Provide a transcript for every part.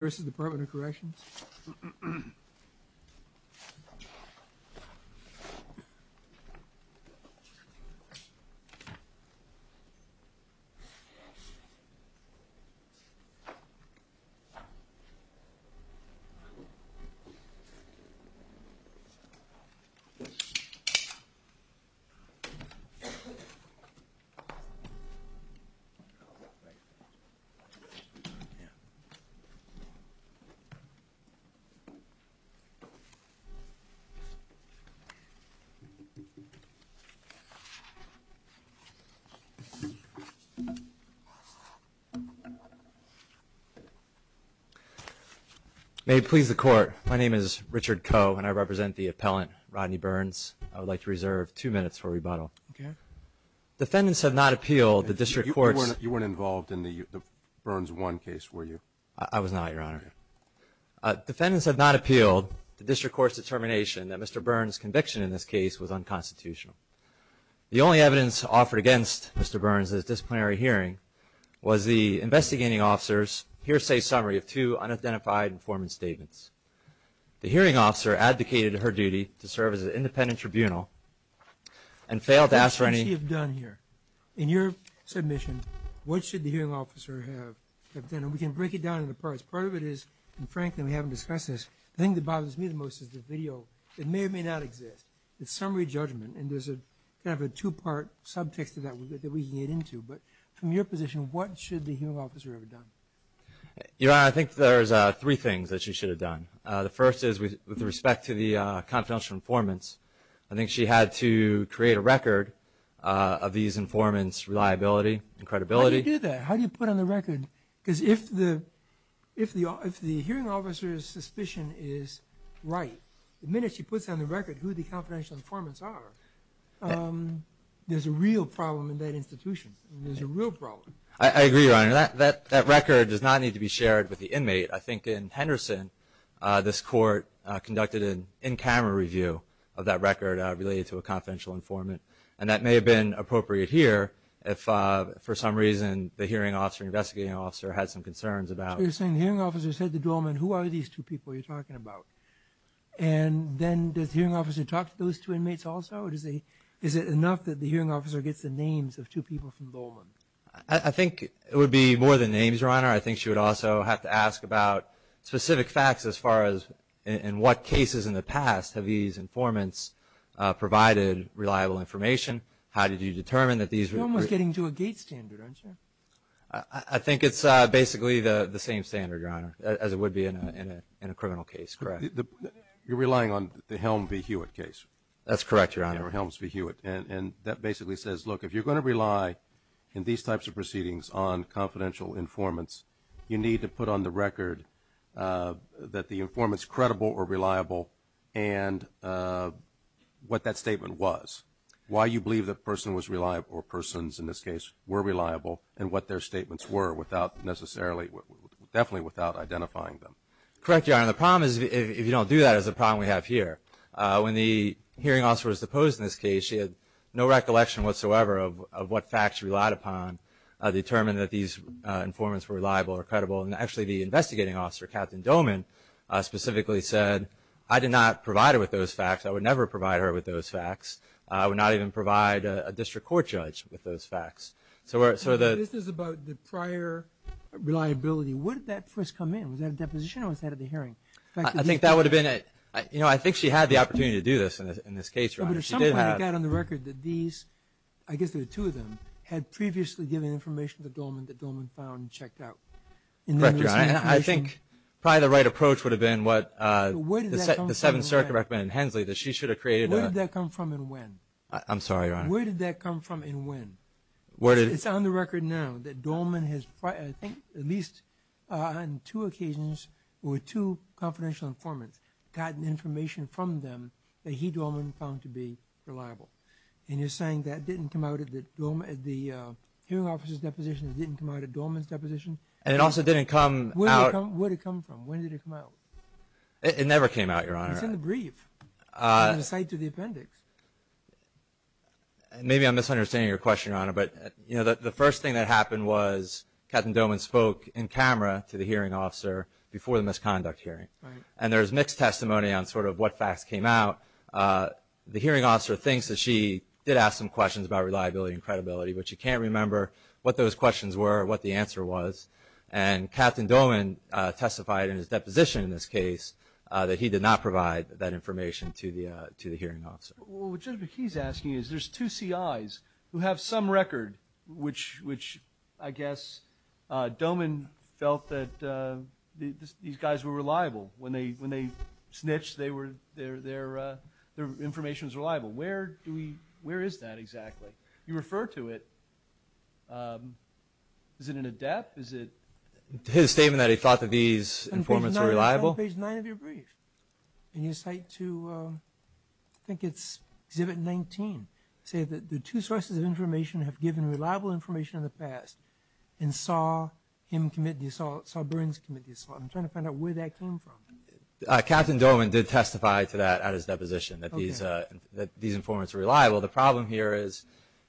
This is the Department of Corrections. May it please the Court, my name is Richard Koh and I represent the appellant, Rodney Burns. I would like to reserve two minutes for rebuttal. Defendants have not appealed the District Court's... You weren't involved in the Burns 1 case, were you? I was not, Your Honor. Defendants have not appealed the District Court's determination that Mr. Burns' conviction in this case was unconstitutional. The only evidence offered against Mr. Burns' disciplinary hearing was the investigating officer's hearsay summary of two unidentified informant statements. The hearing officer advocated her duty to serve as an independent tribunal and failed to ask for any... What should she have done here? In your submission, what should the hearing officer have done? And we can break it down into parts. Part of it is, and frankly we haven't discussed this, the thing that bothers me the most is the video. It may or may not exist. It's summary judgment and there's kind of a two-part subtext to that that we can get into. But from your position, what should the hearing officer have done? Your Honor, I think there's three things that she should have done. The first is with respect to the confidential informants, I think she had to create a record of these informants' reliability and credibility. How do you do that? How do you put on the record? Because if the hearing officer's suspicion is right, the minute she puts on the record who the confidential informants are, there's a real problem in that institution. There's a real problem. I agree, Your Honor. That record does not need to be shared with the inmate. I think in Henderson, this court conducted an in-camera review of that record related to a confidential informant. And that may have been appropriate here if, for some reason, the hearing officer or investigating officer had some concerns about it. So you're saying the hearing officer said to Dolman, who are these two people you're talking about? And then does the hearing officer talk to those two inmates also? Or is it enough that the hearing officer gets the names of two people from Dolman? I think it would be more than names, Your Honor. I think she would also have to ask about specific facts as far as, in what cases in the past have these informants provided reliable information? How did you determine that these were? You're almost getting to a gate standard, aren't you? I think it's basically the same standard, Your Honor, as it would be in a criminal case, correct? You're relying on the Helms v. Hewitt case. That's correct, Your Honor. Helms v. Hewitt. And that basically says, look, if you're going to rely in these types of proceedings on confidential informants, you need to put on the record that the informant's credible or reliable and what that statement was, why you believe that person was reliable, or persons in this case were reliable, and what their statements were without necessarily, definitely without identifying them. Correct, Your Honor. The problem is, if you don't do that, is the problem we have here. When the hearing officer was deposed in this case, she had no recollection whatsoever of what facts she relied upon to determine that these informants were reliable or credible. And actually, the investigating officer, Captain Doman, specifically said, I did not provide her with those facts. I would never provide her with those facts. I would not even provide a district court judge with those facts. This is about the prior reliability. When did that first come in? Was that a deposition or was that at the hearing? I think that would have been at – I think she had the opportunity to do this in this case, Your Honor. But at some point it got on the record that these – I guess there were two of them – had previously given information to Doman that Doman found and checked out. Correct, Your Honor. I think probably the right approach would have been what the Seventh Circuit recommended in Hensley, that she should have created a – Where did that come from and when? I'm sorry, Your Honor. Where did that come from and when? It's on the record now that Doman has, I think, at least on two occasions, or two confidential informants, gotten information from them that he, Doman, found to be reliable. And you're saying that didn't come out at the hearing officer's deposition? It didn't come out at Doman's deposition? And it also didn't come out – Where did it come from? When did it come out? It never came out, Your Honor. It's in the brief. It's not in the appendix. Maybe I'm misunderstanding your question, Your Honor, but the first thing that happened was Captain Doman spoke in camera to the hearing officer before the misconduct hearing. Right. And there was mixed testimony on sort of what facts came out. The hearing officer thinks that she did ask some questions about reliability and credibility, but she can't remember what those questions were or what the answer was. And Captain Doman testified in his deposition in this case that he did not provide that information to the hearing officer. Well, what Judge McKee is asking is there's two CIs who have some record, which I guess Doman felt that these guys were reliable. When they snitched, their information was reliable. Where is that exactly? You refer to it. Is it in ADEPT? His statement that he thought that these informants were reliable? It's on page 9 of your brief. And you cite to, I think it's Exhibit 19, say that the two sources of information have given reliable information in the past and saw him commit the assault, saw Burns commit the assault. I'm trying to find out where that came from. Captain Doman did testify to that at his deposition, that these informants were reliable. The problem here is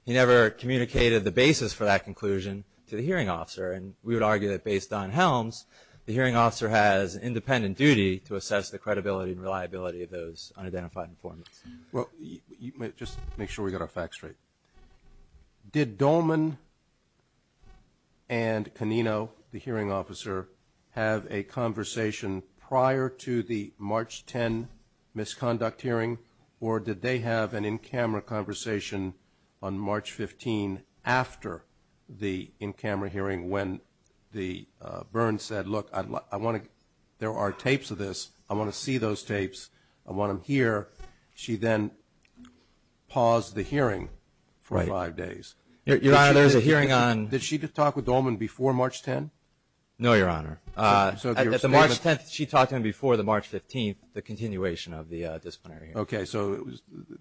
he never communicated the basis for that conclusion to the hearing officer, and we would argue that based on Helms, the hearing officer has independent duty to assess the credibility and reliability of those unidentified informants. Just make sure we get our facts straight. Did Doman and Canino, the hearing officer, have a conversation prior to the March 10 misconduct hearing, or did they have an in-camera conversation on March 15 after the in-camera hearing when Burns said, look, there are tapes of this, I want to see those tapes, I want them here. She then paused the hearing for five days. Your Honor, there's a hearing on – Did she talk with Doman before March 10? No, Your Honor. At the March 10th, she talked to him before the March 15th, the continuation of the disciplinary hearing. Okay. So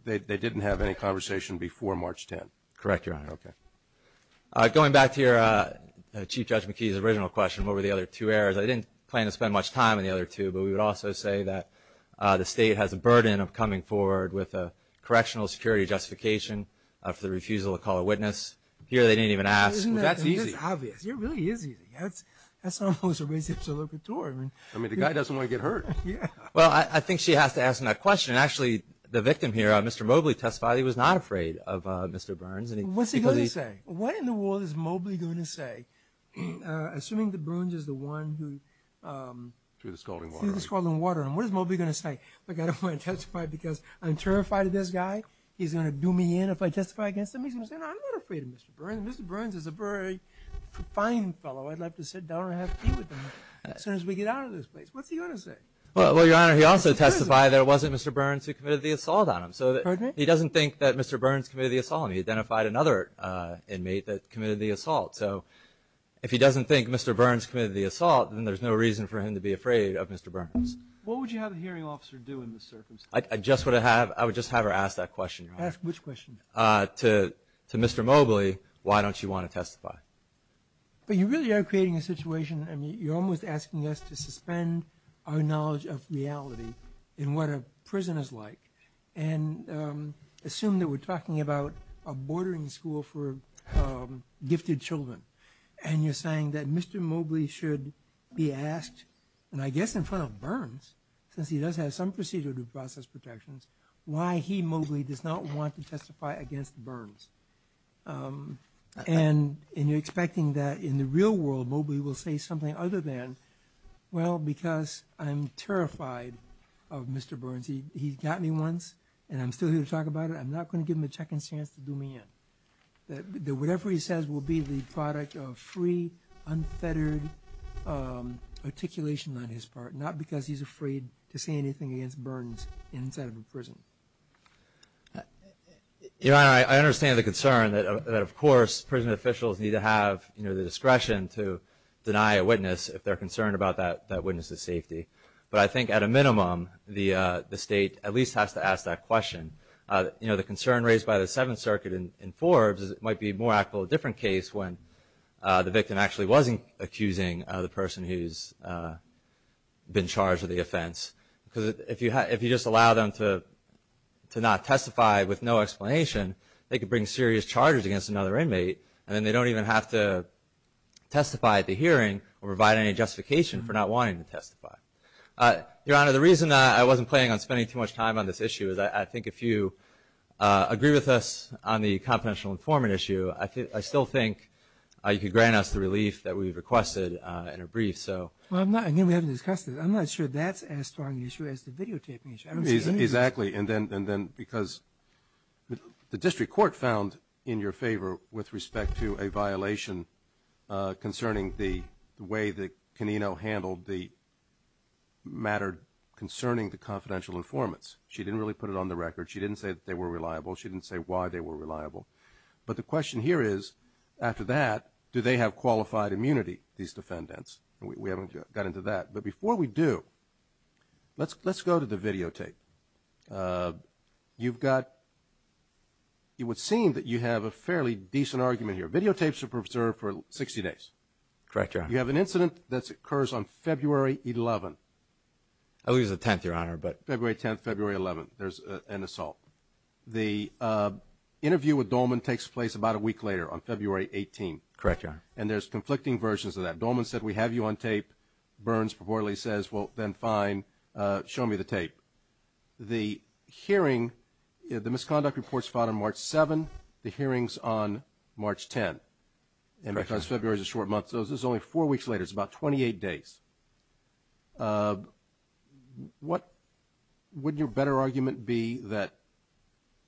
they didn't have any conversation before March 10. Correct, Your Honor. Okay. Going back to your Chief Judge McKee's original question, what were the other two errors, I didn't plan to spend much time on the other two, but we would also say that the State has a burden of coming forward with a correctional security justification after the refusal to call a witness. Here they didn't even ask. That's easy. It's obvious. It really is easy. That's almost a reciprocatory. I mean, the guy doesn't want to get hurt. Well, I think she has to ask him that question. Actually, the victim here, Mr. Mobley testified he was not afraid of Mr. Burns. What's he going to say? What in the world is Mobley going to say? Assuming that Burns is the one who ---- Threw the scalding water. Threw the scalding water. And what is Mobley going to say? Look, I don't want to testify because I'm terrified of this guy. He's going to do me in if I testify against him. He's going to say, I'm not afraid of Mr. Burns. Mr. Burns is a very fine fellow. I'd like to sit down and have tea with him as soon as we get out of this place. What's he going to say? Well, Your Honor, he also testified that it wasn't Mr. Burns who committed the assault on him. Pardon me? He doesn't think that Mr. Burns committed the assault on him. He identified another inmate that committed the assault. So if he doesn't think Mr. Burns committed the assault, then there's no reason for him to be afraid of Mr. Burns. What would you have a hearing officer do in this circumstance? I would just have her ask that question, Your Honor. Ask which question? To Mr. Mobley, why don't you want to testify? But you really are creating a situation. You're almost asking us to suspend our knowledge of reality and what a prison is like and assume that we're talking about a bordering school for gifted children. And you're saying that Mr. Mobley should be asked, and I guess in front of Burns, since he does have some procedure to process protections, why he, Mobley, does not want to testify against Burns. And you're expecting that in the real world, Mobley will say something other than, Well, because I'm terrified of Mr. Burns. He got me once, and I'm still here to talk about it. I'm not going to give him a second chance to do me in. Whatever he says will be the product of free, unfettered articulation on his part, not because he's afraid to say anything against Burns inside of a prison. Your Honor, I understand the concern that, of course, prison officials need to have the discretion to deny a witness if they're concerned about that witness's safety. But I think, at a minimum, the State at least has to ask that question. The concern raised by the Seventh Circuit in Forbes is it might be more actual a different case when the victim actually wasn't accusing the person who's been charged with the offense. Because if you just allow them to not testify with no explanation, they could bring serious charges against another inmate, and then they don't even have to testify at the hearing or provide any justification for not wanting to testify. Your Honor, the reason I wasn't planning on spending too much time on this issue is I think if you agree with us on the confidential informant issue, I still think you could grant us the relief that we've requested in a brief. Well, again, we haven't discussed it. I'm not sure that's as strong an issue as the videotaping issue. Exactly. And then because the district court found in your favor with respect to a violation concerning the way that Canino handled the matter concerning the confidential informants. She didn't really put it on the record. She didn't say that they were reliable. She didn't say why they were reliable. But the question here is, after that, do they have qualified immunity, these defendants? We haven't got into that. But before we do, let's go to the videotape. You've got, it would seem that you have a fairly decent argument here. Videotapes are preserved for 60 days. Correct, Your Honor. You have an incident that occurs on February 11th. I believe it's the 10th, Your Honor. February 10th, February 11th, there's an assault. The interview with Dolman takes place about a week later on February 18th. Correct, Your Honor. And there's conflicting versions of that. Dolman said, we have you on tape. Burns purportedly says, well, then fine. Show me the tape. The hearing, the misconduct report is filed on March 7th. The hearing is on March 10th. And because February is a short month, so this is only four weeks later. It's about 28 days. What would your better argument be that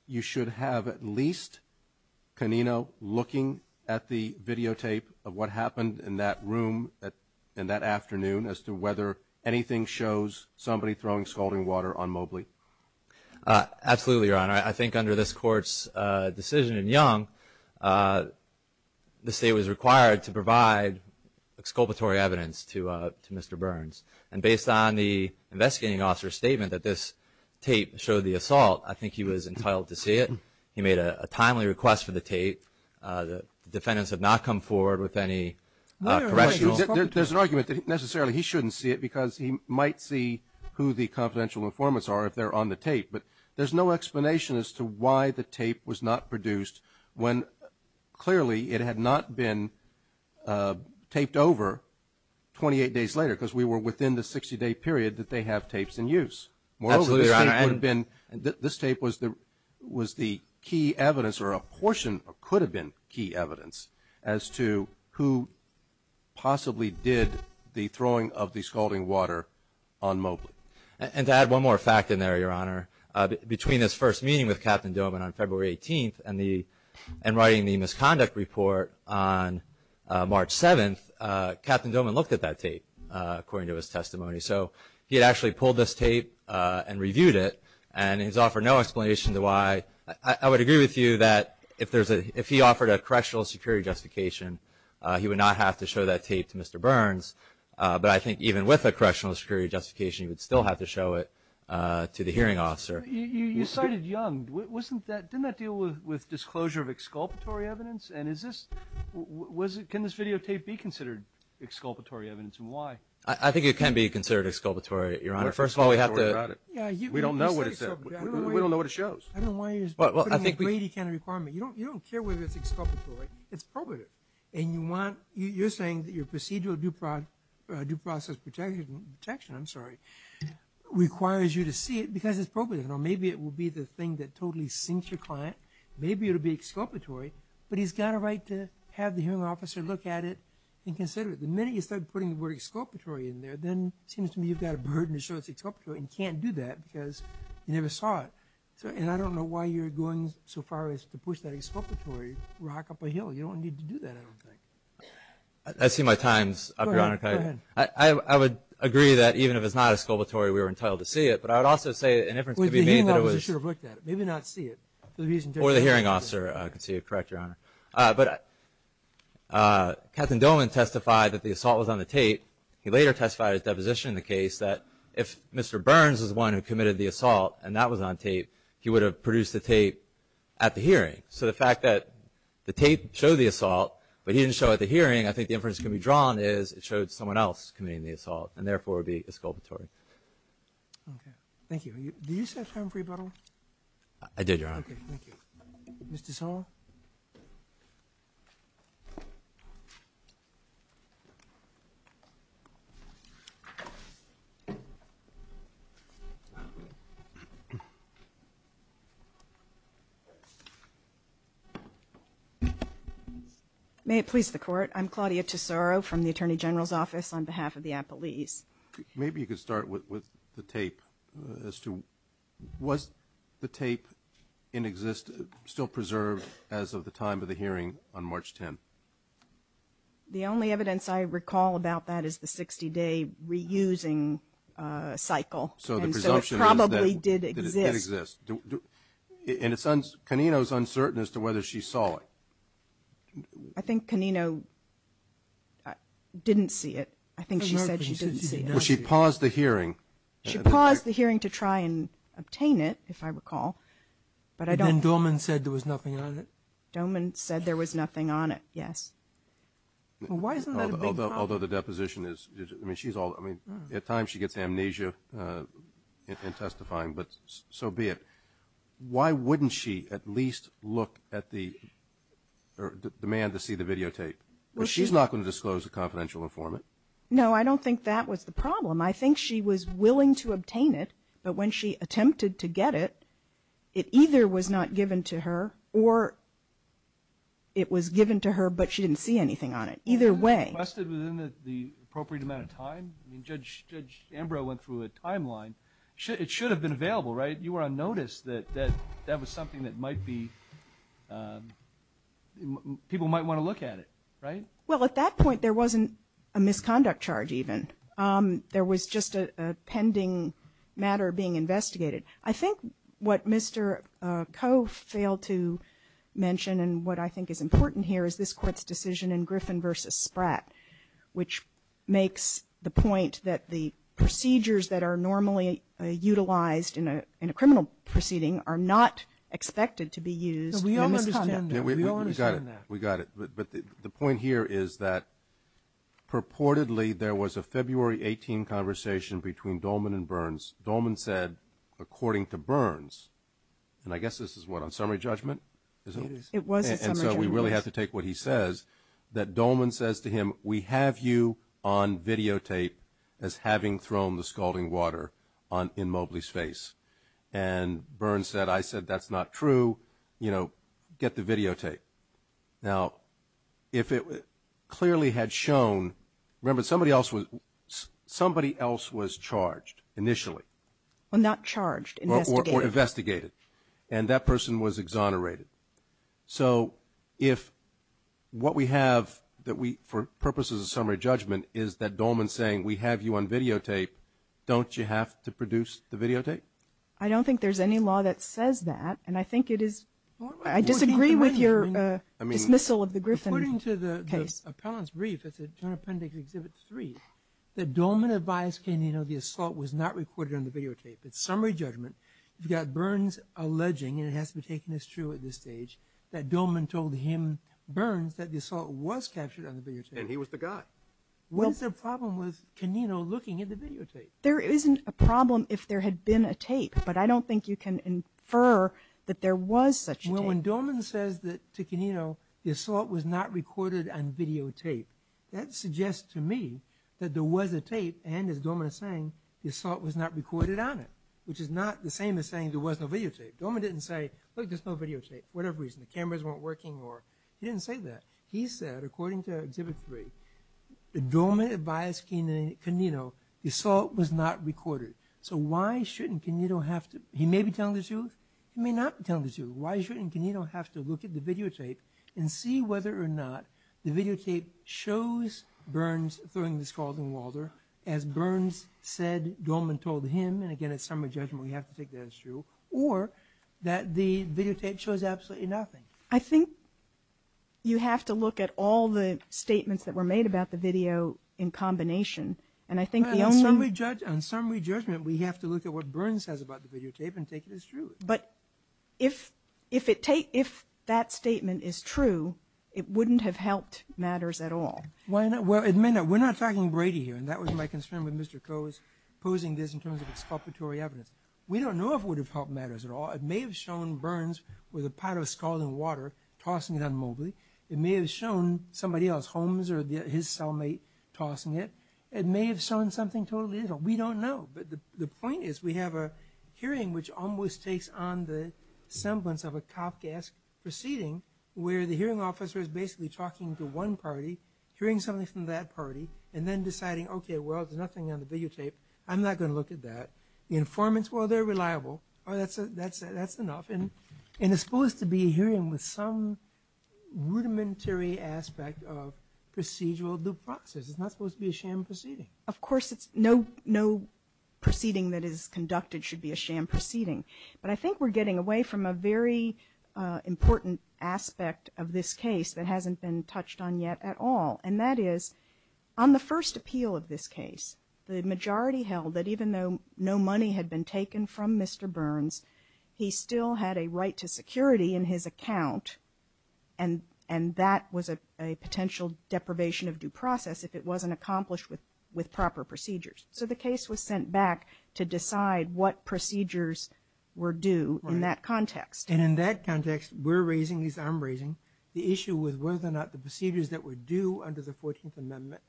you should have at least Canino looking at the videotape of what happened in that room in that afternoon as to whether anything shows somebody throwing scalding water on Mobley? Absolutely, Your Honor. I think under this Court's decision in Young, the State was required to provide exculpatory evidence to Mr. Burns. And based on the investigating officer's statement that this tape showed the assault, I think he was entitled to see it. He made a timely request for the tape. The defendants have not come forward with any correctionals. There's an argument that necessarily he shouldn't see it because he might see who the confidential informants are if they're on the tape. But there's no explanation as to why the tape was not produced when clearly it had not been taped over 28 days later because we were within the 60-day period that they have tapes in use. Absolutely, Your Honor. And this tape was the key evidence, or a portion could have been key evidence, as to who possibly did the throwing of the scalding water on Mobley. And to add one more fact in there, Your Honor, between his first meeting with Captain Doman on February 18th and writing the misconduct report on March 7th, Captain Doman looked at that tape according to his testimony. So he had actually pulled this tape and reviewed it, and he's offered no explanation as to why. I would agree with you that if he offered a correctional security justification, he would not have to show that tape to Mr. Burns. But I think even with a correctional security justification, he would still have to show it to the hearing officer. You cited Young. Didn't that deal with disclosure of exculpatory evidence? Can this videotape be considered exculpatory evidence, and why? I think it can be considered exculpatory, Your Honor. First of all, we have to – We don't know what it says. We don't know what it shows. I don't know why you're putting in a grady kind of requirement. You don't care whether it's exculpatory. It's probative. And you're saying that your procedural due process protection requires you to see it because it's probative. Maybe it will be the thing that totally sinks your client. Maybe it will be exculpatory. But he's got a right to have the hearing officer look at it and consider it. The minute you start putting the word exculpatory in there, then it seems to me you've got a burden to show it's exculpatory and can't do that because you never saw it. And I don't know why you're going so far as to push that exculpatory rock up a hill. You don't need to do that, I don't think. I see my times, Your Honor. Go ahead. I would agree that even if it's not exculpatory, we were entitled to see it. But I would also say – The hearing officer should have looked at it, maybe not see it. Or the hearing officer could see it. Correct, Your Honor. But Captain Dolan testified that the assault was on the tape. He later testified at deposition in the case that if Mr. Burns was the one who committed the assault and that was on tape, he would have produced the tape at the hearing. So the fact that the tape showed the assault, but he didn't show it at the hearing, I think the inference can be drawn is it showed someone else committing the assault and, therefore, would be exculpatory. Thank you. Did you set a time for rebuttal? I did, Your Honor. Okay. Thank you. Mr. Tessaro? May it please the Court. I'm Claudia Tessaro from the Attorney General's Office on behalf of the Apple East. Maybe you could start with the tape as to was the tape in existence, still preserved as of the time of the hearing on March 10th? The only evidence I recall about that is the 60-day reusing cycle. So the presumption is that it exists. So it probably did exist. In a sense, Canino is uncertain as to whether she saw it. I think Canino didn't see it. I think she said she didn't see it. Well, she paused the hearing. She paused the hearing to try and obtain it, if I recall, but I don't. And then Doman said there was nothing on it? Doman said there was nothing on it, yes. Well, why isn't that a big problem? Although the deposition is, I mean, she's all, I mean, at times she gets amnesia in testifying, but so be it. Why wouldn't she at least look at the, or demand to see the videotape? Well, she's not going to disclose a confidential informant. No, I don't think that was the problem. I think she was willing to obtain it, but when she attempted to get it, it either was not given to her or it was given to her, but she didn't see anything on it. Either way. Was it requested within the appropriate amount of time? I mean, Judge Ambrose went through a timeline. It should have been available, right? You were on notice that that was something that might be, people might want to look at it, right? Well, at that point there wasn't a misconduct charge even. There was just a pending matter being investigated. I think what Mr. Koh failed to mention and what I think is important here is this Court's decision in Griffin v. Spratt, which makes the point that the procedures that are normally utilized in a criminal proceeding are not expected to be used in a misconduct. No, we all understand that. We all understand that. We got it. But the point here is that purportedly there was a February 18 conversation between Dolman and Burns. Dolman said, according to Burns, and I guess this is what, on summary judgment? It is. It was a summary judgment. And so we really have to take what he says, that Dolman says to him, we have you on videotape as having thrown the scalding water in Mobley's face. And Burns said, I said, that's not true. You know, get the videotape. Now, if it clearly had shown, remember somebody else was charged initially. Well, not charged, investigated. Or investigated. And that person was exonerated. So if what we have that we, for purposes of summary judgment, is that Dolman's saying we have you on videotape, don't you have to produce the videotape? I don't think there's any law that says that. And I think it is, I disagree with your dismissal of the Griffin case. According to the appellant's brief, it's in Appendix Exhibit 3, that Dolman advised Canino the assault was not recorded on the videotape. It's summary judgment. You've got Burns alleging, and it has to be taken as true at this stage, that Dolman told him, Burns, that the assault was captured on the videotape. And he was the guy. What is the problem with Canino looking at the videotape? There isn't a problem if there had been a tape. But I don't think you can infer that there was such a tape. Well, when Dolman says to Canino the assault was not recorded on videotape, that suggests to me that there was a tape. And as Dolman is saying, the assault was not recorded on it, which is not the same as saying there was no videotape. Dolman didn't say, look, there's no videotape, for whatever reason. The cameras weren't working, or he didn't say that. He said, according to Exhibit 3, that Dolman advised Canino the assault was not recorded. So why shouldn't Canino have to, he may be telling the truth, he may not be telling the truth. Why shouldn't Canino have to look at the videotape and see whether or not the videotape shows Burns throwing the skulls in Walter as Burns said Dolman told him. And again, in summary judgment, we have to take that as true. Or that the videotape shows absolutely nothing. I think you have to look at all the statements that were made about the video in combination, and I think the only... On summary judgment, we have to look at what Burns says about the videotape and take it as true. But if that statement is true, it wouldn't have helped matters at all. Well, it may not. We're not talking Brady here, and that was my concern with Mr. Coe's posing this in terms of exculpatory evidence. We don't know if it would have helped matters at all. It may have shown Burns with a pot of skull in Walter tossing it on Mobley. It may have shown somebody else, Holmes or his cellmate, tossing it. It may have shown something totally different. We don't know. But the point is we have a hearing which almost takes on the semblance of a Kafkaesque proceeding where the hearing officer is basically talking to one party, hearing something from that party, and then deciding, okay, well, there's nothing on the videotape. I'm not going to look at that. The informants, well, they're reliable. That's enough. And it's supposed to be a hearing with some rudimentary aspect of procedural due process. It's not supposed to be a sham proceeding. Of course, no proceeding that is conducted should be a sham proceeding. But I think we're getting away from a very important aspect of this case that hasn't been touched on yet at all. And that is, on the first appeal of this case, the majority held that even though no money had been taken from Mr. Burns, he still had a right to security in his account, and that was a potential deprivation of due process if it wasn't accomplished with proper procedures. So the case was sent back to decide what procedures were due in that context. And in that context, we're raising, as I'm raising, the issue with whether or not the procedures that were due under the 14th Amendment,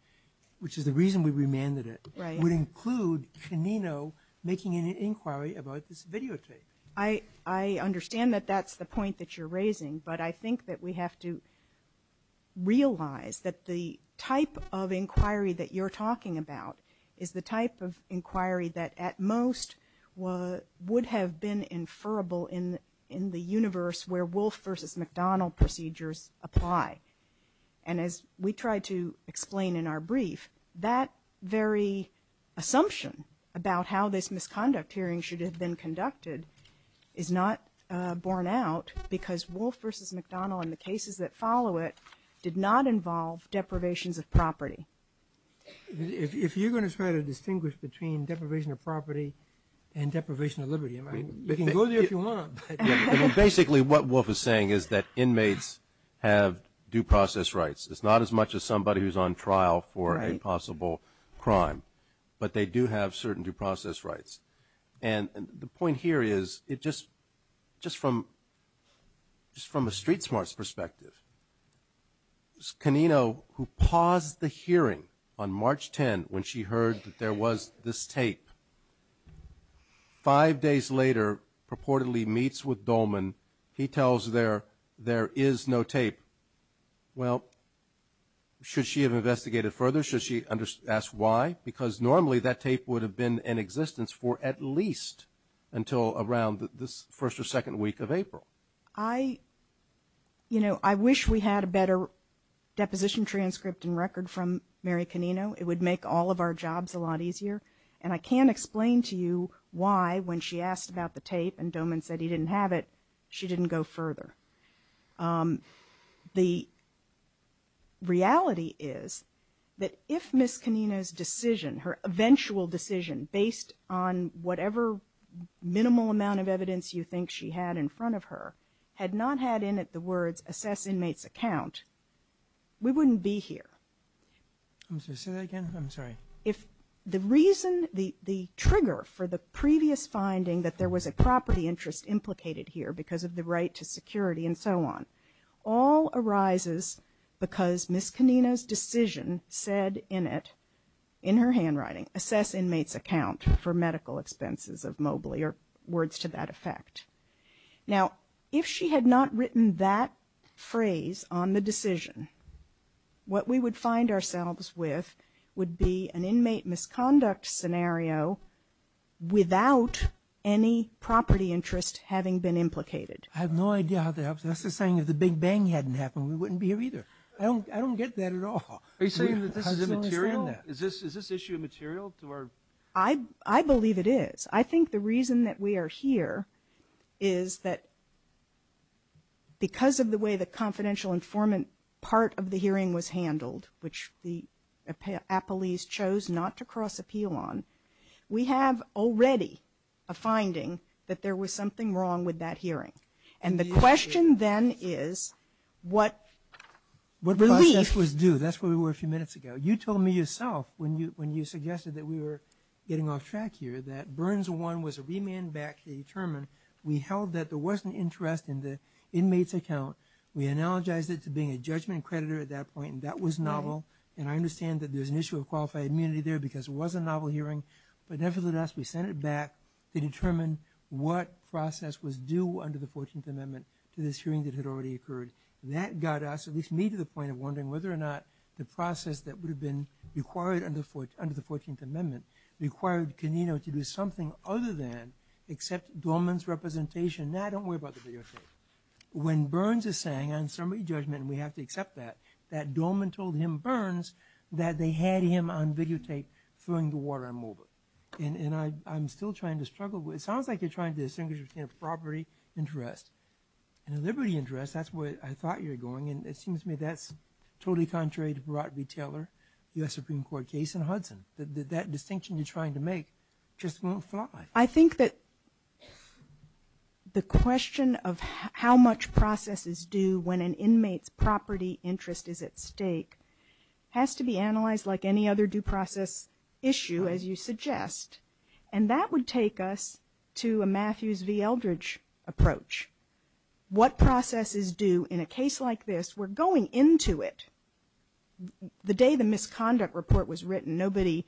which is the reason we remanded it, would include Canino making an inquiry about this videotape. I understand that that's the point that you're raising, but I think that we have to realize that the type of inquiry that you're talking about is the type of inquiry that at most would have been inferable in the universe where Wolf v. McDonnell procedures apply. And as we tried to explain in our brief, that very assumption about how this misconduct hearing should have been conducted is not borne out because Wolf v. McDonnell and the cases that follow it did not involve deprivations of property. If you're going to try to distinguish between deprivation of property and deprivation of liberty, you can go there if you want. Basically, what Wolf is saying is that inmates have due process rights. It's not as much as somebody who's on trial for a possible crime, but they do have certain due process rights. And the point here is, just from a street smarts perspective, Canino, who paused the hearing on March 10th when she heard that there was this tape, five days later purportedly meets with Dolman. He tells her there is no tape. Well, should she have investigated further? Should she ask why? Because normally that tape would have been in existence for at least until around this first or second week of April. I wish we had a better deposition transcript and record from Mary Canino. It would make all of our jobs a lot easier. And I can't explain to you why, when she asked about the tape and Dolman said he didn't have it, she didn't go further. The reality is that if Ms. Canino's decision, her eventual decision, based on whatever minimal amount of evidence you think she had in front of her, had not had in it the words, assess inmate's account, we wouldn't be here. I'm sorry, say that again? I'm sorry. If the reason, the trigger for the previous finding that there was a property interest implicated here because of the right to security and so on, all arises because Ms. Canino's decision said in it, in her handwriting, assess inmate's account for medical expenses of Mobley or words to that effect. Now, if she had not written that phrase on the decision, what we would find ourselves with would be an inmate misconduct scenario without any property interest having been implicated. I have no idea how that helps. That's the saying, if the Big Bang hadn't happened, we wouldn't be here either. I don't get that at all. Are you saying that this is immaterial? Is this issue immaterial to our? I believe it is. I think the reason that we are here is that because of the way the confidential informant part of the hearing was handled, which the appellees chose not to cross appeal on, we have already a finding that there was something wrong with that hearing. And the question then is what relief. The process was due. That's where we were a few minutes ago. You told me yourself when you suggested that we were getting off track here that Burns 1 was a remand back to the attorney. We held that there wasn't interest in the inmate's account. We analogized it to being a judgment creditor at that point, and that was novel. And I understand that there's an issue of qualified immunity there because it was a novel hearing. But nevertheless, we sent it back to determine what process was due under the 14th Amendment to this hearing that had already occurred. That got us, at least me, to the point of wondering whether or not the process that would have been required under the 14th Amendment required Canino to do something other than accept Dorman's representation. No, I don't worry about the videotape. When Burns is saying on summary judgment, and we have to accept that, that Dorman told him, Burns, that they had him on videotape throwing the water on Moberg. And I'm still trying to struggle with it. It sounds like you're trying to distinguish between a property interest and a liberty interest. That's where I thought you were going. And it seems to me that's totally contrary to the Brodby-Taylor U.S. Supreme Court case in Hudson. That distinction you're trying to make just won't fly. I think that the question of how much process is due when an inmate's property interest is at stake has to be analyzed like any other due process issue, as you suggest. And that would take us to a Matthews v. Eldridge approach. What process is due in a case like this? We're going into it. The day the misconduct report was written, nobody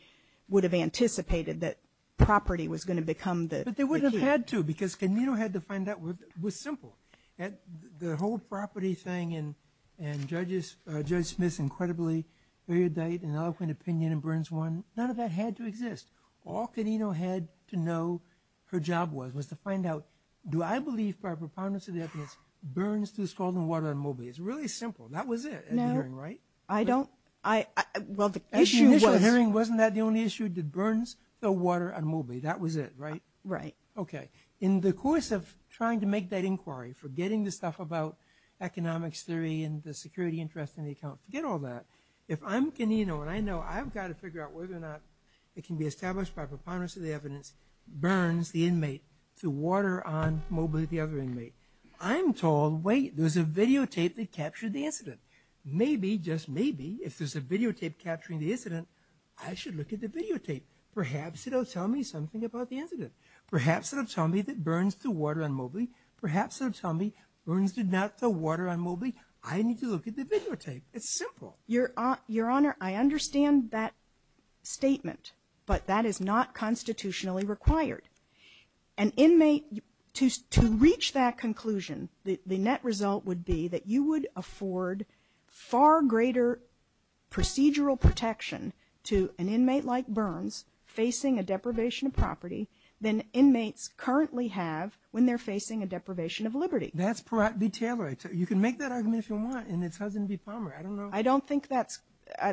would have anticipated that property was going to become the key. But they wouldn't have had to because Canino had to find out what was simple. The whole property thing and Judge Smith's incredibly erudite and eloquent opinion in Burns 1, none of that had to exist. All Canino had to know her job was was to find out, do I believe by a preponderance of the evidence Burns threw scalding water on Moberg? It's really simple. That was it at the hearing, right? No, I don't. At the initial hearing, wasn't that the only issue? Did Burns throw water on Moberg? That was it, right? Right. Okay. In the course of trying to make that inquiry, forgetting the stuff about economics theory and the security interest in the account, forget all that. If I'm Canino and I know I've got to figure out whether or not it can be established by preponderance of the evidence Burns, the inmate, threw water on Moberg, the other inmate, I'm told, wait, there's a videotape that captured the incident. Maybe, just maybe, if there's a videotape capturing the incident, I should look at the videotape. Perhaps it'll tell me something about the incident. Perhaps it'll tell me that Burns threw water on Moberg. Perhaps it'll tell me Burns did not throw water on Moberg. I need to look at the videotape. It's simple. Your Honor, I understand that statement, but that is not constitutionally required. An inmate, to reach that conclusion, the net result would be that you would afford far greater procedural protection to an inmate like Burns facing a deprivation of property than inmates currently have when they're facing a deprivation of liberty. That's B. Taylor. You can make that argument if you want, and it's Husband v. Palmer. I don't know. I don't think that's,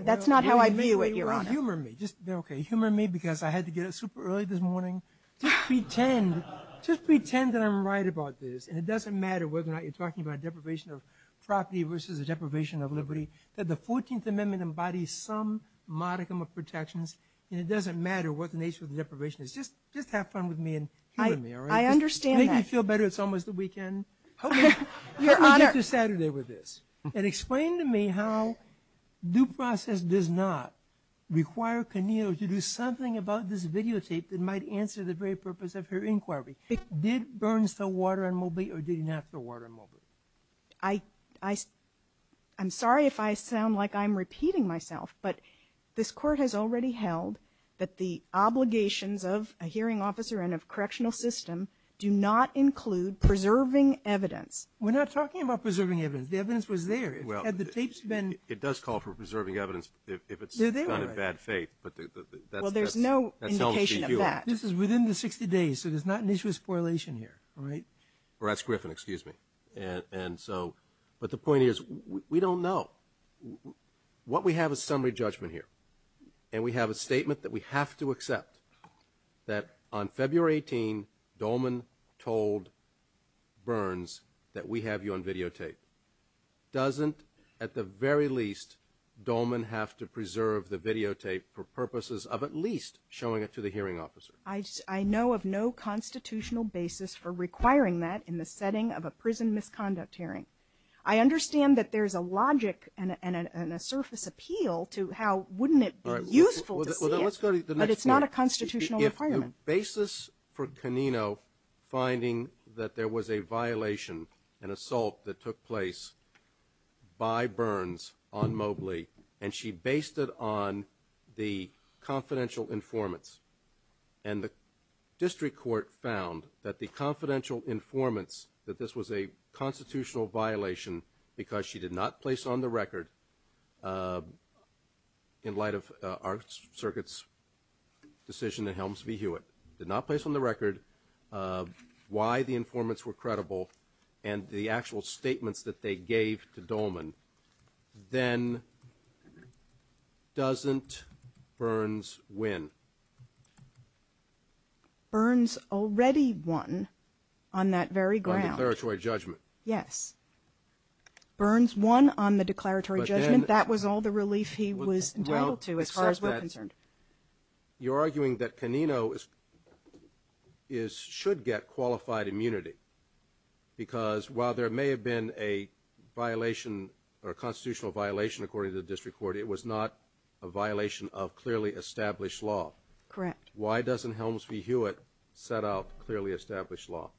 that's not how I view it, Your Honor. Humor me. Just, okay, humor me because I had to get up super early this morning. Just pretend, just pretend that I'm right about this, and it doesn't matter whether or not you're talking about a deprivation of property versus a deprivation of liberty, that the 14th Amendment embodies some modicum of protections, and it doesn't matter what the nature of the deprivation is. Just have fun with me and humor me, all right? I understand that. Make me feel better it's almost the weekend. Help me get through Saturday with this. And explain to me how due process does not require Caneo to do something about this videotape that might answer the very purpose of her inquiry. Did Burns throw water on Mobley or did he not throw water on Mobley? I'm sorry if I sound like I'm repeating myself, but this Court has already held that the obligations of a hearing officer and of correctional system do not include preserving evidence. We're not talking about preserving evidence. The evidence was there. Well, it does call for preserving evidence if it's done in bad faith. Well, there's no indication of that. This is within the 60 days, so there's not an issue of spoilation here, all right? Or at Griffin, excuse me. But the point is we don't know. What we have is summary judgment here, and we have a statement that we have to accept that on February 18, Dolman told Burns that we have you on videotape. Doesn't, at the very least, Dolman have to preserve the videotape for purposes of at least showing it to the hearing officer? I know of no constitutional basis for requiring that in the setting of a prison misconduct hearing. I understand that there's a logic and a surface appeal to how wouldn't it be useful to see it, but it's not a constitutional requirement. The basis for Canino finding that there was a violation, an assault that took place by Burns on Mobley, and she based it on the confidential informants, and the district court found that the confidential informants, that this was a constitutional violation because she did not place on the record why the informants were credible and the actual statements that they gave to Dolman, then doesn't Burns win? Burns already won on that very ground. On declaratory judgment. Yes. Burns won on the declaratory judgment. That was all the relief he was entitled to as far as we're concerned. You're arguing that Canino should get qualified immunity because while there may have been a violation or a constitutional violation, according to the district court, it was not a violation of clearly established law. Correct. Why doesn't Helms v. Hewitt set out clearly established law?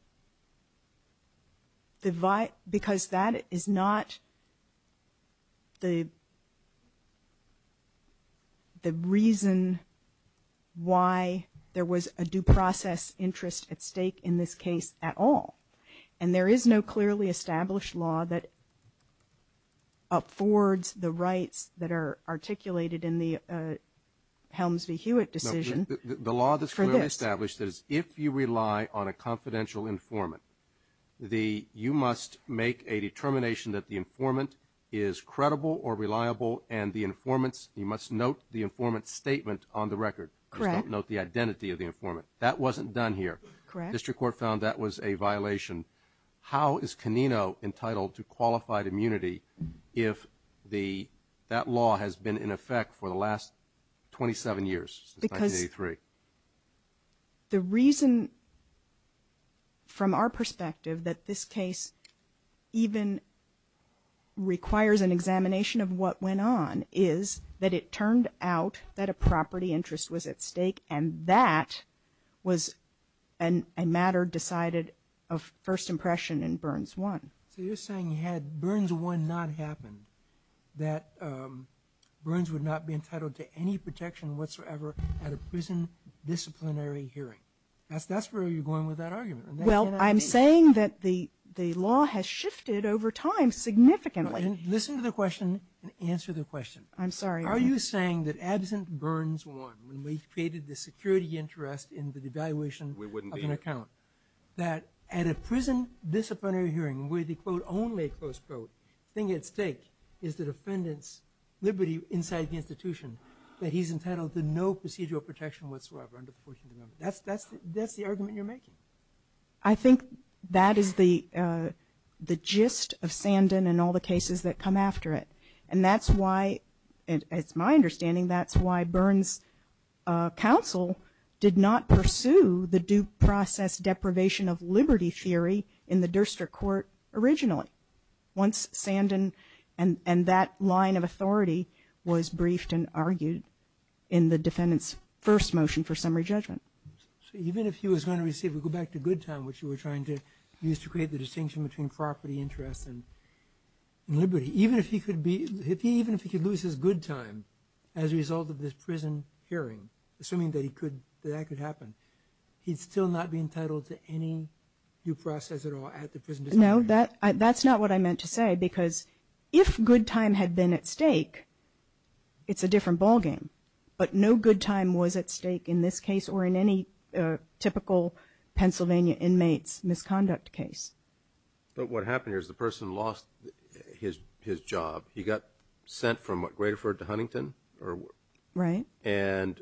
Because that is not the reason for the violation of the confidential informant. That is not the reason why there was a due process interest at stake in this case at all. And there is no clearly established law that up forwards the rights that are articulated in the Helms v. Hewitt document on the record. Correct. Note the identity of the informant. That wasn't done here. Correct. District court found that was a violation. How is Canino entitled to qualified immunity if the, that law has been in effect for the last 27 years, because the reason from our perspective that this case even requires an informant is that the property interest was at stake and that was a matter decided of first impression in Burns 1. So you're saying you had Burns 1 not happen, that Burns would not be entitled to any protection whatsoever at a prison disciplinary hearing. That's where you're going with that argument. Well, I'm saying that the law has shifted over time significantly. Listen to the question and answer the question. I'm sorry. Are you saying that absent Burns 1, when we created the security interest in the devaluation of an account, that at a prison disciplinary hearing where the quote only close quote thing at stake is the defendant's liberty inside the institution, that he's entitled to no procedural protection whatsoever under the 14th Amendment. That's the argument you're making. I think that is the gist of Sandin and all the cases that come after it. And that's why, it's my understanding, that's why Burns' counsel did not pursue the due process deprivation of liberty theory in the Durster Court originally once Sandin and that line of authority was briefed and argued in the defendant's first motion for summary judgment. So even if he was going to receive, we go back to good time which you were trying to use to create the distinction between property interest and liberty. Even if he could be, even if he could lose his good time as a result of this prison hearing, assuming that he could, that could happen, he'd still not be entitled to any due process at all at the prison disciplinary hearing. No, that's not what I meant to say because if good time had been at stake, it's a different ball game. But no good time was at stake in this case or in any typical Pennsylvania inmates misconduct case. But what happened here is the person lost his job. He got sent from what, Grateford to Huntington? Right. And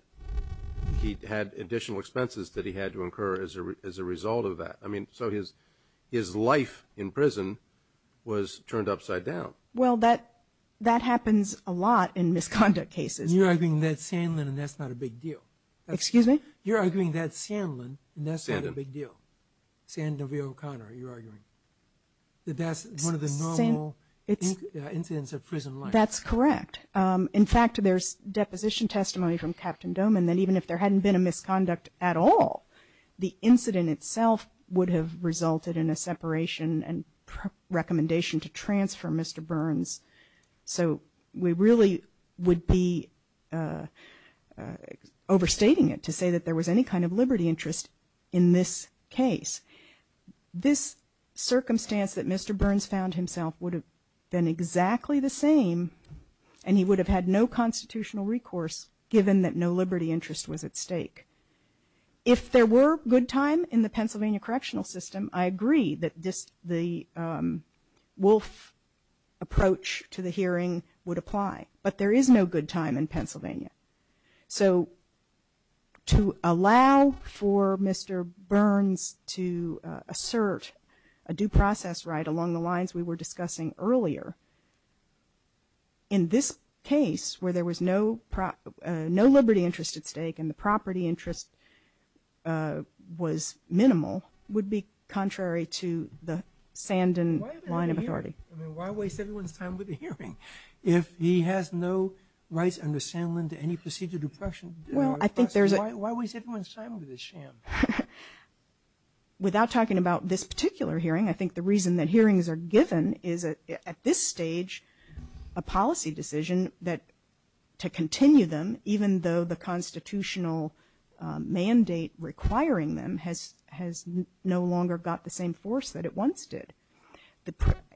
he had additional expenses that he had to incur as a result of that. I mean, so his life in prison was turned upside down. Well, that happens a lot in misconduct cases. You're arguing that's Sandlin and that's not a big deal. Excuse me? You're arguing that's Sandlin and that's not a big deal. Sandlin O'Connor, you're arguing. That that's one of the normal incidents of prison life. That's correct. In fact, there's deposition testimony from Captain Doman that even if there hadn't been a misconduct at all, the incident itself would have resulted in a separation and recommendation to transfer Mr. Burns. So we really would be overstating it to say that there was any kind of liberty interest in this case. This circumstance that Mr. Burns found himself would have been exactly the same and he would have had no constitutional recourse given that no liberty interest was at stake. If there were good time in the Pennsylvania correctional system, I agree that the Wolf approach to the hearing would apply. But there is no good time in Pennsylvania. So to allow for Mr. Burns to assert a due process right along the lines we were discussing earlier, in this case where there was no liberty interest at stake and the property interest was minimal, would be contrary to the Sandlin line of authority. Why waste everyone's time with the hearing? If he has no rights under Sandlin to any procedure of depression, why waste everyone's time with this sham? Without talking about this particular hearing, I think the reason that hearings are given is at this stage a policy decision that to continue them even though the constitutional mandate requiring them has no longer got the same force that it once did.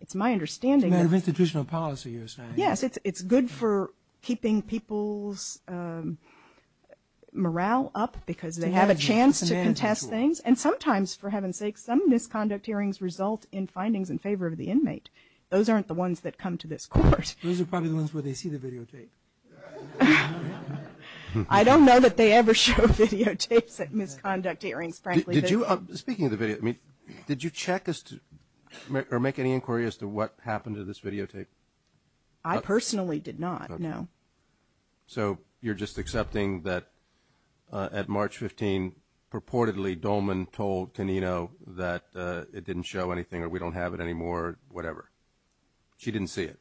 It's my understanding that It's a matter of institutional policy you're saying. Yes, it's good for keeping people's morale up because they have a chance to contest things and sometimes, for heaven's sake, some misconduct hearings result in findings in favor of the inmate. Those aren't the ones that come to this court. Those are probably the ones where they see the videotape. I don't know that they ever show videotapes at misconduct hearings, frankly. Speaking of the videotape, did you check or make any inquiry as to what happened to this videotape? I personally did not, no. So you're just accepting that at March 15th, purportedly Dolman told Canino that it didn't show anything or we don't have it anymore, whatever. She didn't see it.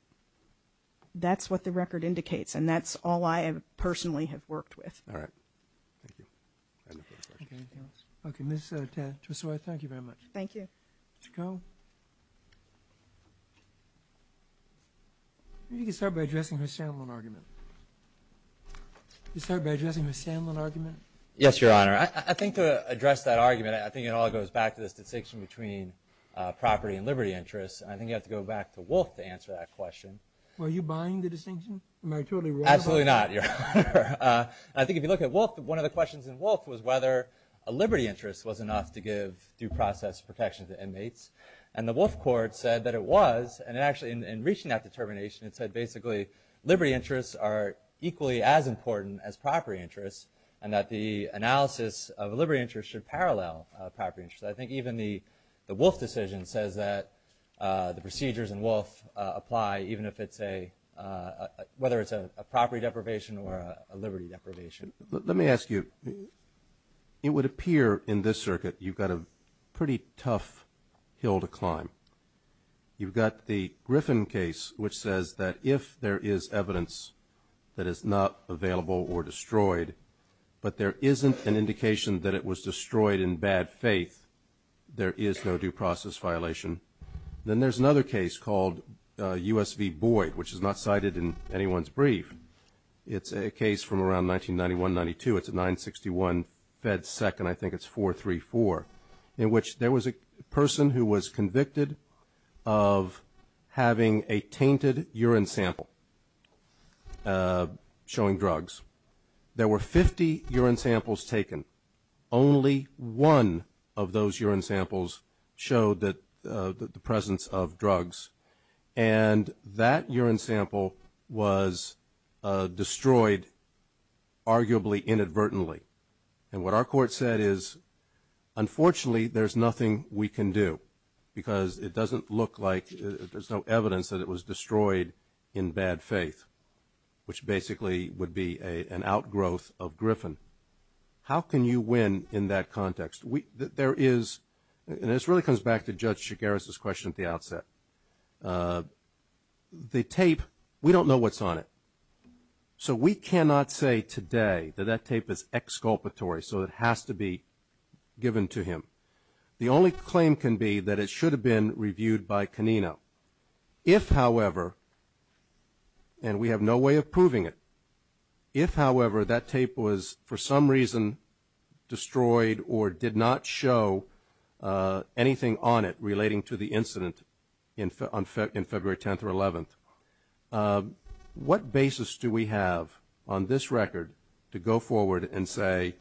That's what the record indicates, and that's all I personally have worked with. All right. Thank you. Okay. Ms. Tresor, thank you very much. Thank you. Mr. Cohn? Maybe you can start by addressing her Sandlin argument. You can start by addressing her Sandlin argument. Yes, Your Honor. I think to address that argument, I think it all goes back to this distinction between property and liberty interests, and I think you have to go back to Wolfe to answer that question. Are you buying the distinction? Am I totally wrong about that? Absolutely not, Your Honor. I think if you look at Wolfe, one of the questions in Wolfe was whether a liberty interest was enough to give due process protection to inmates, and the Wolfe court said that it was, and actually in reaching that determination, it said basically liberty interests are equally as important as property interests and that the analysis of a liberty interest should parallel a property interest. I think even the Wolfe decision says that the procedures in Wolfe apply even if it's a, whether it's a property deprivation or a liberty deprivation. Let me ask you. It would appear in this circuit you've got a pretty tough hill to climb. You've got the Griffin case, which says that if there is evidence that is not available or destroyed, but there isn't an indication that it was destroyed in bad faith, there is no due process violation. Then there's another case called U.S. v. Boyd, which is not cited in anyone's brief. It's a case from around 1991-92. It's a 961 Fed Second, I think it's 434, in which there was a person who was convicted of having a tainted urine sample showing drugs. There were 50 urine samples taken. Only one of those urine samples showed the presence of drugs. And that urine sample was destroyed arguably inadvertently. And what our court said is, unfortunately, there's nothing we can do because it doesn't look like, there's no evidence that it was destroyed in bad faith, how can you win in that context? There is, and this really comes back to Judge Chigares' question at the outset, the tape, we don't know what's on it. So we cannot say today that that tape is exculpatory, so it has to be given to him. The only claim can be that it should have been reviewed by Canino. If, however, and we have no way of proving it, if, however, that tape was for some reason destroyed or did not show anything on it relating to the incident on February 10th or 11th, what basis do we have on this record to go forward and say,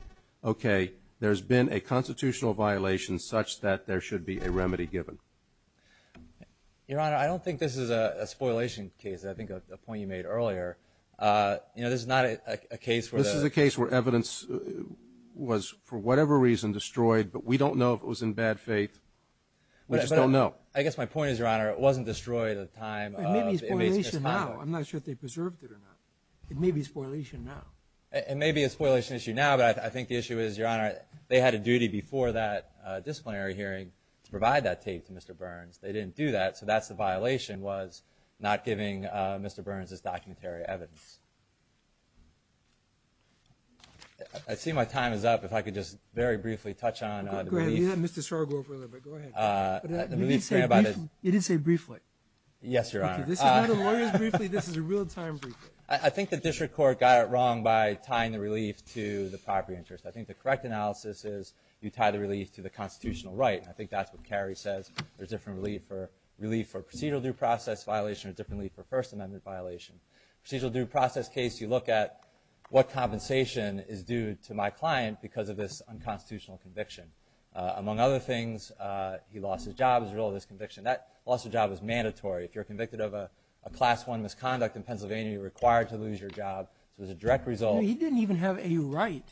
okay, there's been a constitutional violation such that there should be a remedy given? Your Honor, I don't think this is a spoilation case. I think a point you made earlier. You know, this is not a case where the – This is a case where evidence was, for whatever reason, destroyed, but we don't know if it was in bad faith. We just don't know. I guess my point is, Your Honor, it wasn't destroyed at the time of – It may be a spoilation now. I'm not sure if they preserved it or not. It may be a spoilation now. It may be a spoilation issue now, but I think the issue is, Your Honor, they had a duty before that disciplinary hearing to provide that tape to Mr. Burns. They didn't do that, so that's the violation, was not giving Mr. Burns his documentary evidence. I see my time is up. If I could just very briefly touch on the brief. Go ahead. You had Mr. Sargo for a little bit. Go ahead. You didn't say briefly. Yes, Your Honor. This is not a lawyer's briefly. This is a real-time briefly. I think the district court got it wrong by tying the relief to the property interest. I think the correct analysis is you tie the relief to the constitutional right, and I think that's what Carrie says. There's different relief for procedural due process violation or different relief for First Amendment violation. Procedural due process case, you look at what compensation is due to my client because of this unconstitutional conviction. Among other things, he lost his job as a result of this conviction. That loss of job is mandatory. If you're convicted of a Class I misconduct in Pennsylvania, you're required to lose your job, so it's a direct result. He didn't even have a right,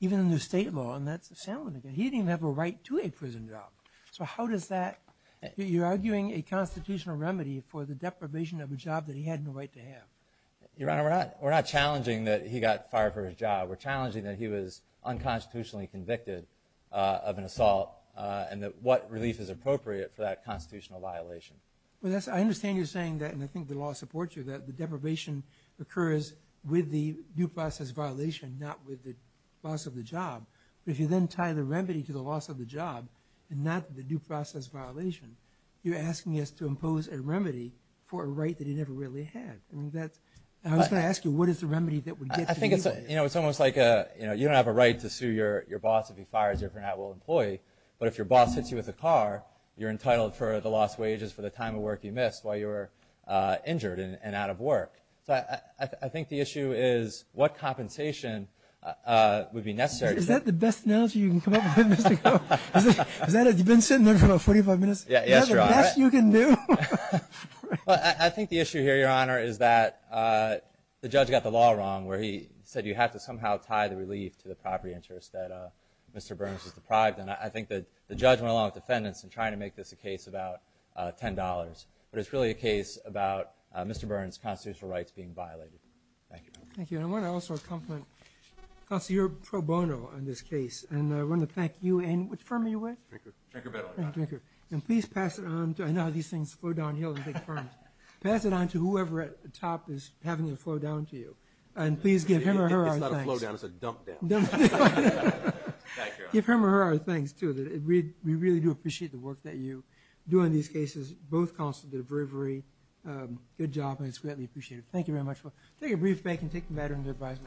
even in the state law, and that's the same one again. He didn't even have a right to a prison job. So how does that – you're arguing a constitutional remedy for the deprivation of a job that he had no right to have. Your Honor, we're not challenging that he got fired for his job. We're challenging that he was unconstitutionally convicted of an assault and what relief is appropriate for that constitutional violation. I understand you're saying that, and I think the law supports you, that the deprivation occurs with the due process violation, not with the loss of the job. But if you then tie the remedy to the loss of the job and not the due process violation, you're asking us to impose a remedy for a right that he never really had. I was going to ask you, what is the remedy that would get to you? I think it's almost like you don't have a right to sue your boss if he fires you if you're not a well-employed, but if your boss hits you with a car, you're entitled for the lost wages for the time of work you missed while you were injured and out of work. So I think the issue is what compensation would be necessary. Is that the best analogy you can come up with, Mr. Coe? You've been sitting there for about 45 minutes. Yes, Your Honor. Is that the best you can do? I think the issue here, Your Honor, is that the judge got the law wrong where he said you have to somehow tie the relief to the property interest that Mr. Burns is deprived. And I think that the judge went along with defendants in trying to make this a case about $10. But it's really a case about Mr. Burns' constitutional rights being violated. Thank you. Thank you. And I want to also compliment Counselor Pro Bono on this case. And I want to thank you. And which firm are you with? Trinker. Trinker-Bentley. Trinker. And please pass it on. I know these things flow downhill in big firms. Pass it on to whoever at the top is having it flow down to you. And please give him or her our thanks. It's not a flow down, it's a dump down. Thank you, Your Honor. Give him or her our thanks, too. We really do appreciate the work that you do on these cases. Both counsels did a very good job, and it's greatly appreciated. Thank you very much. Take a brief break and take the matter under advisement.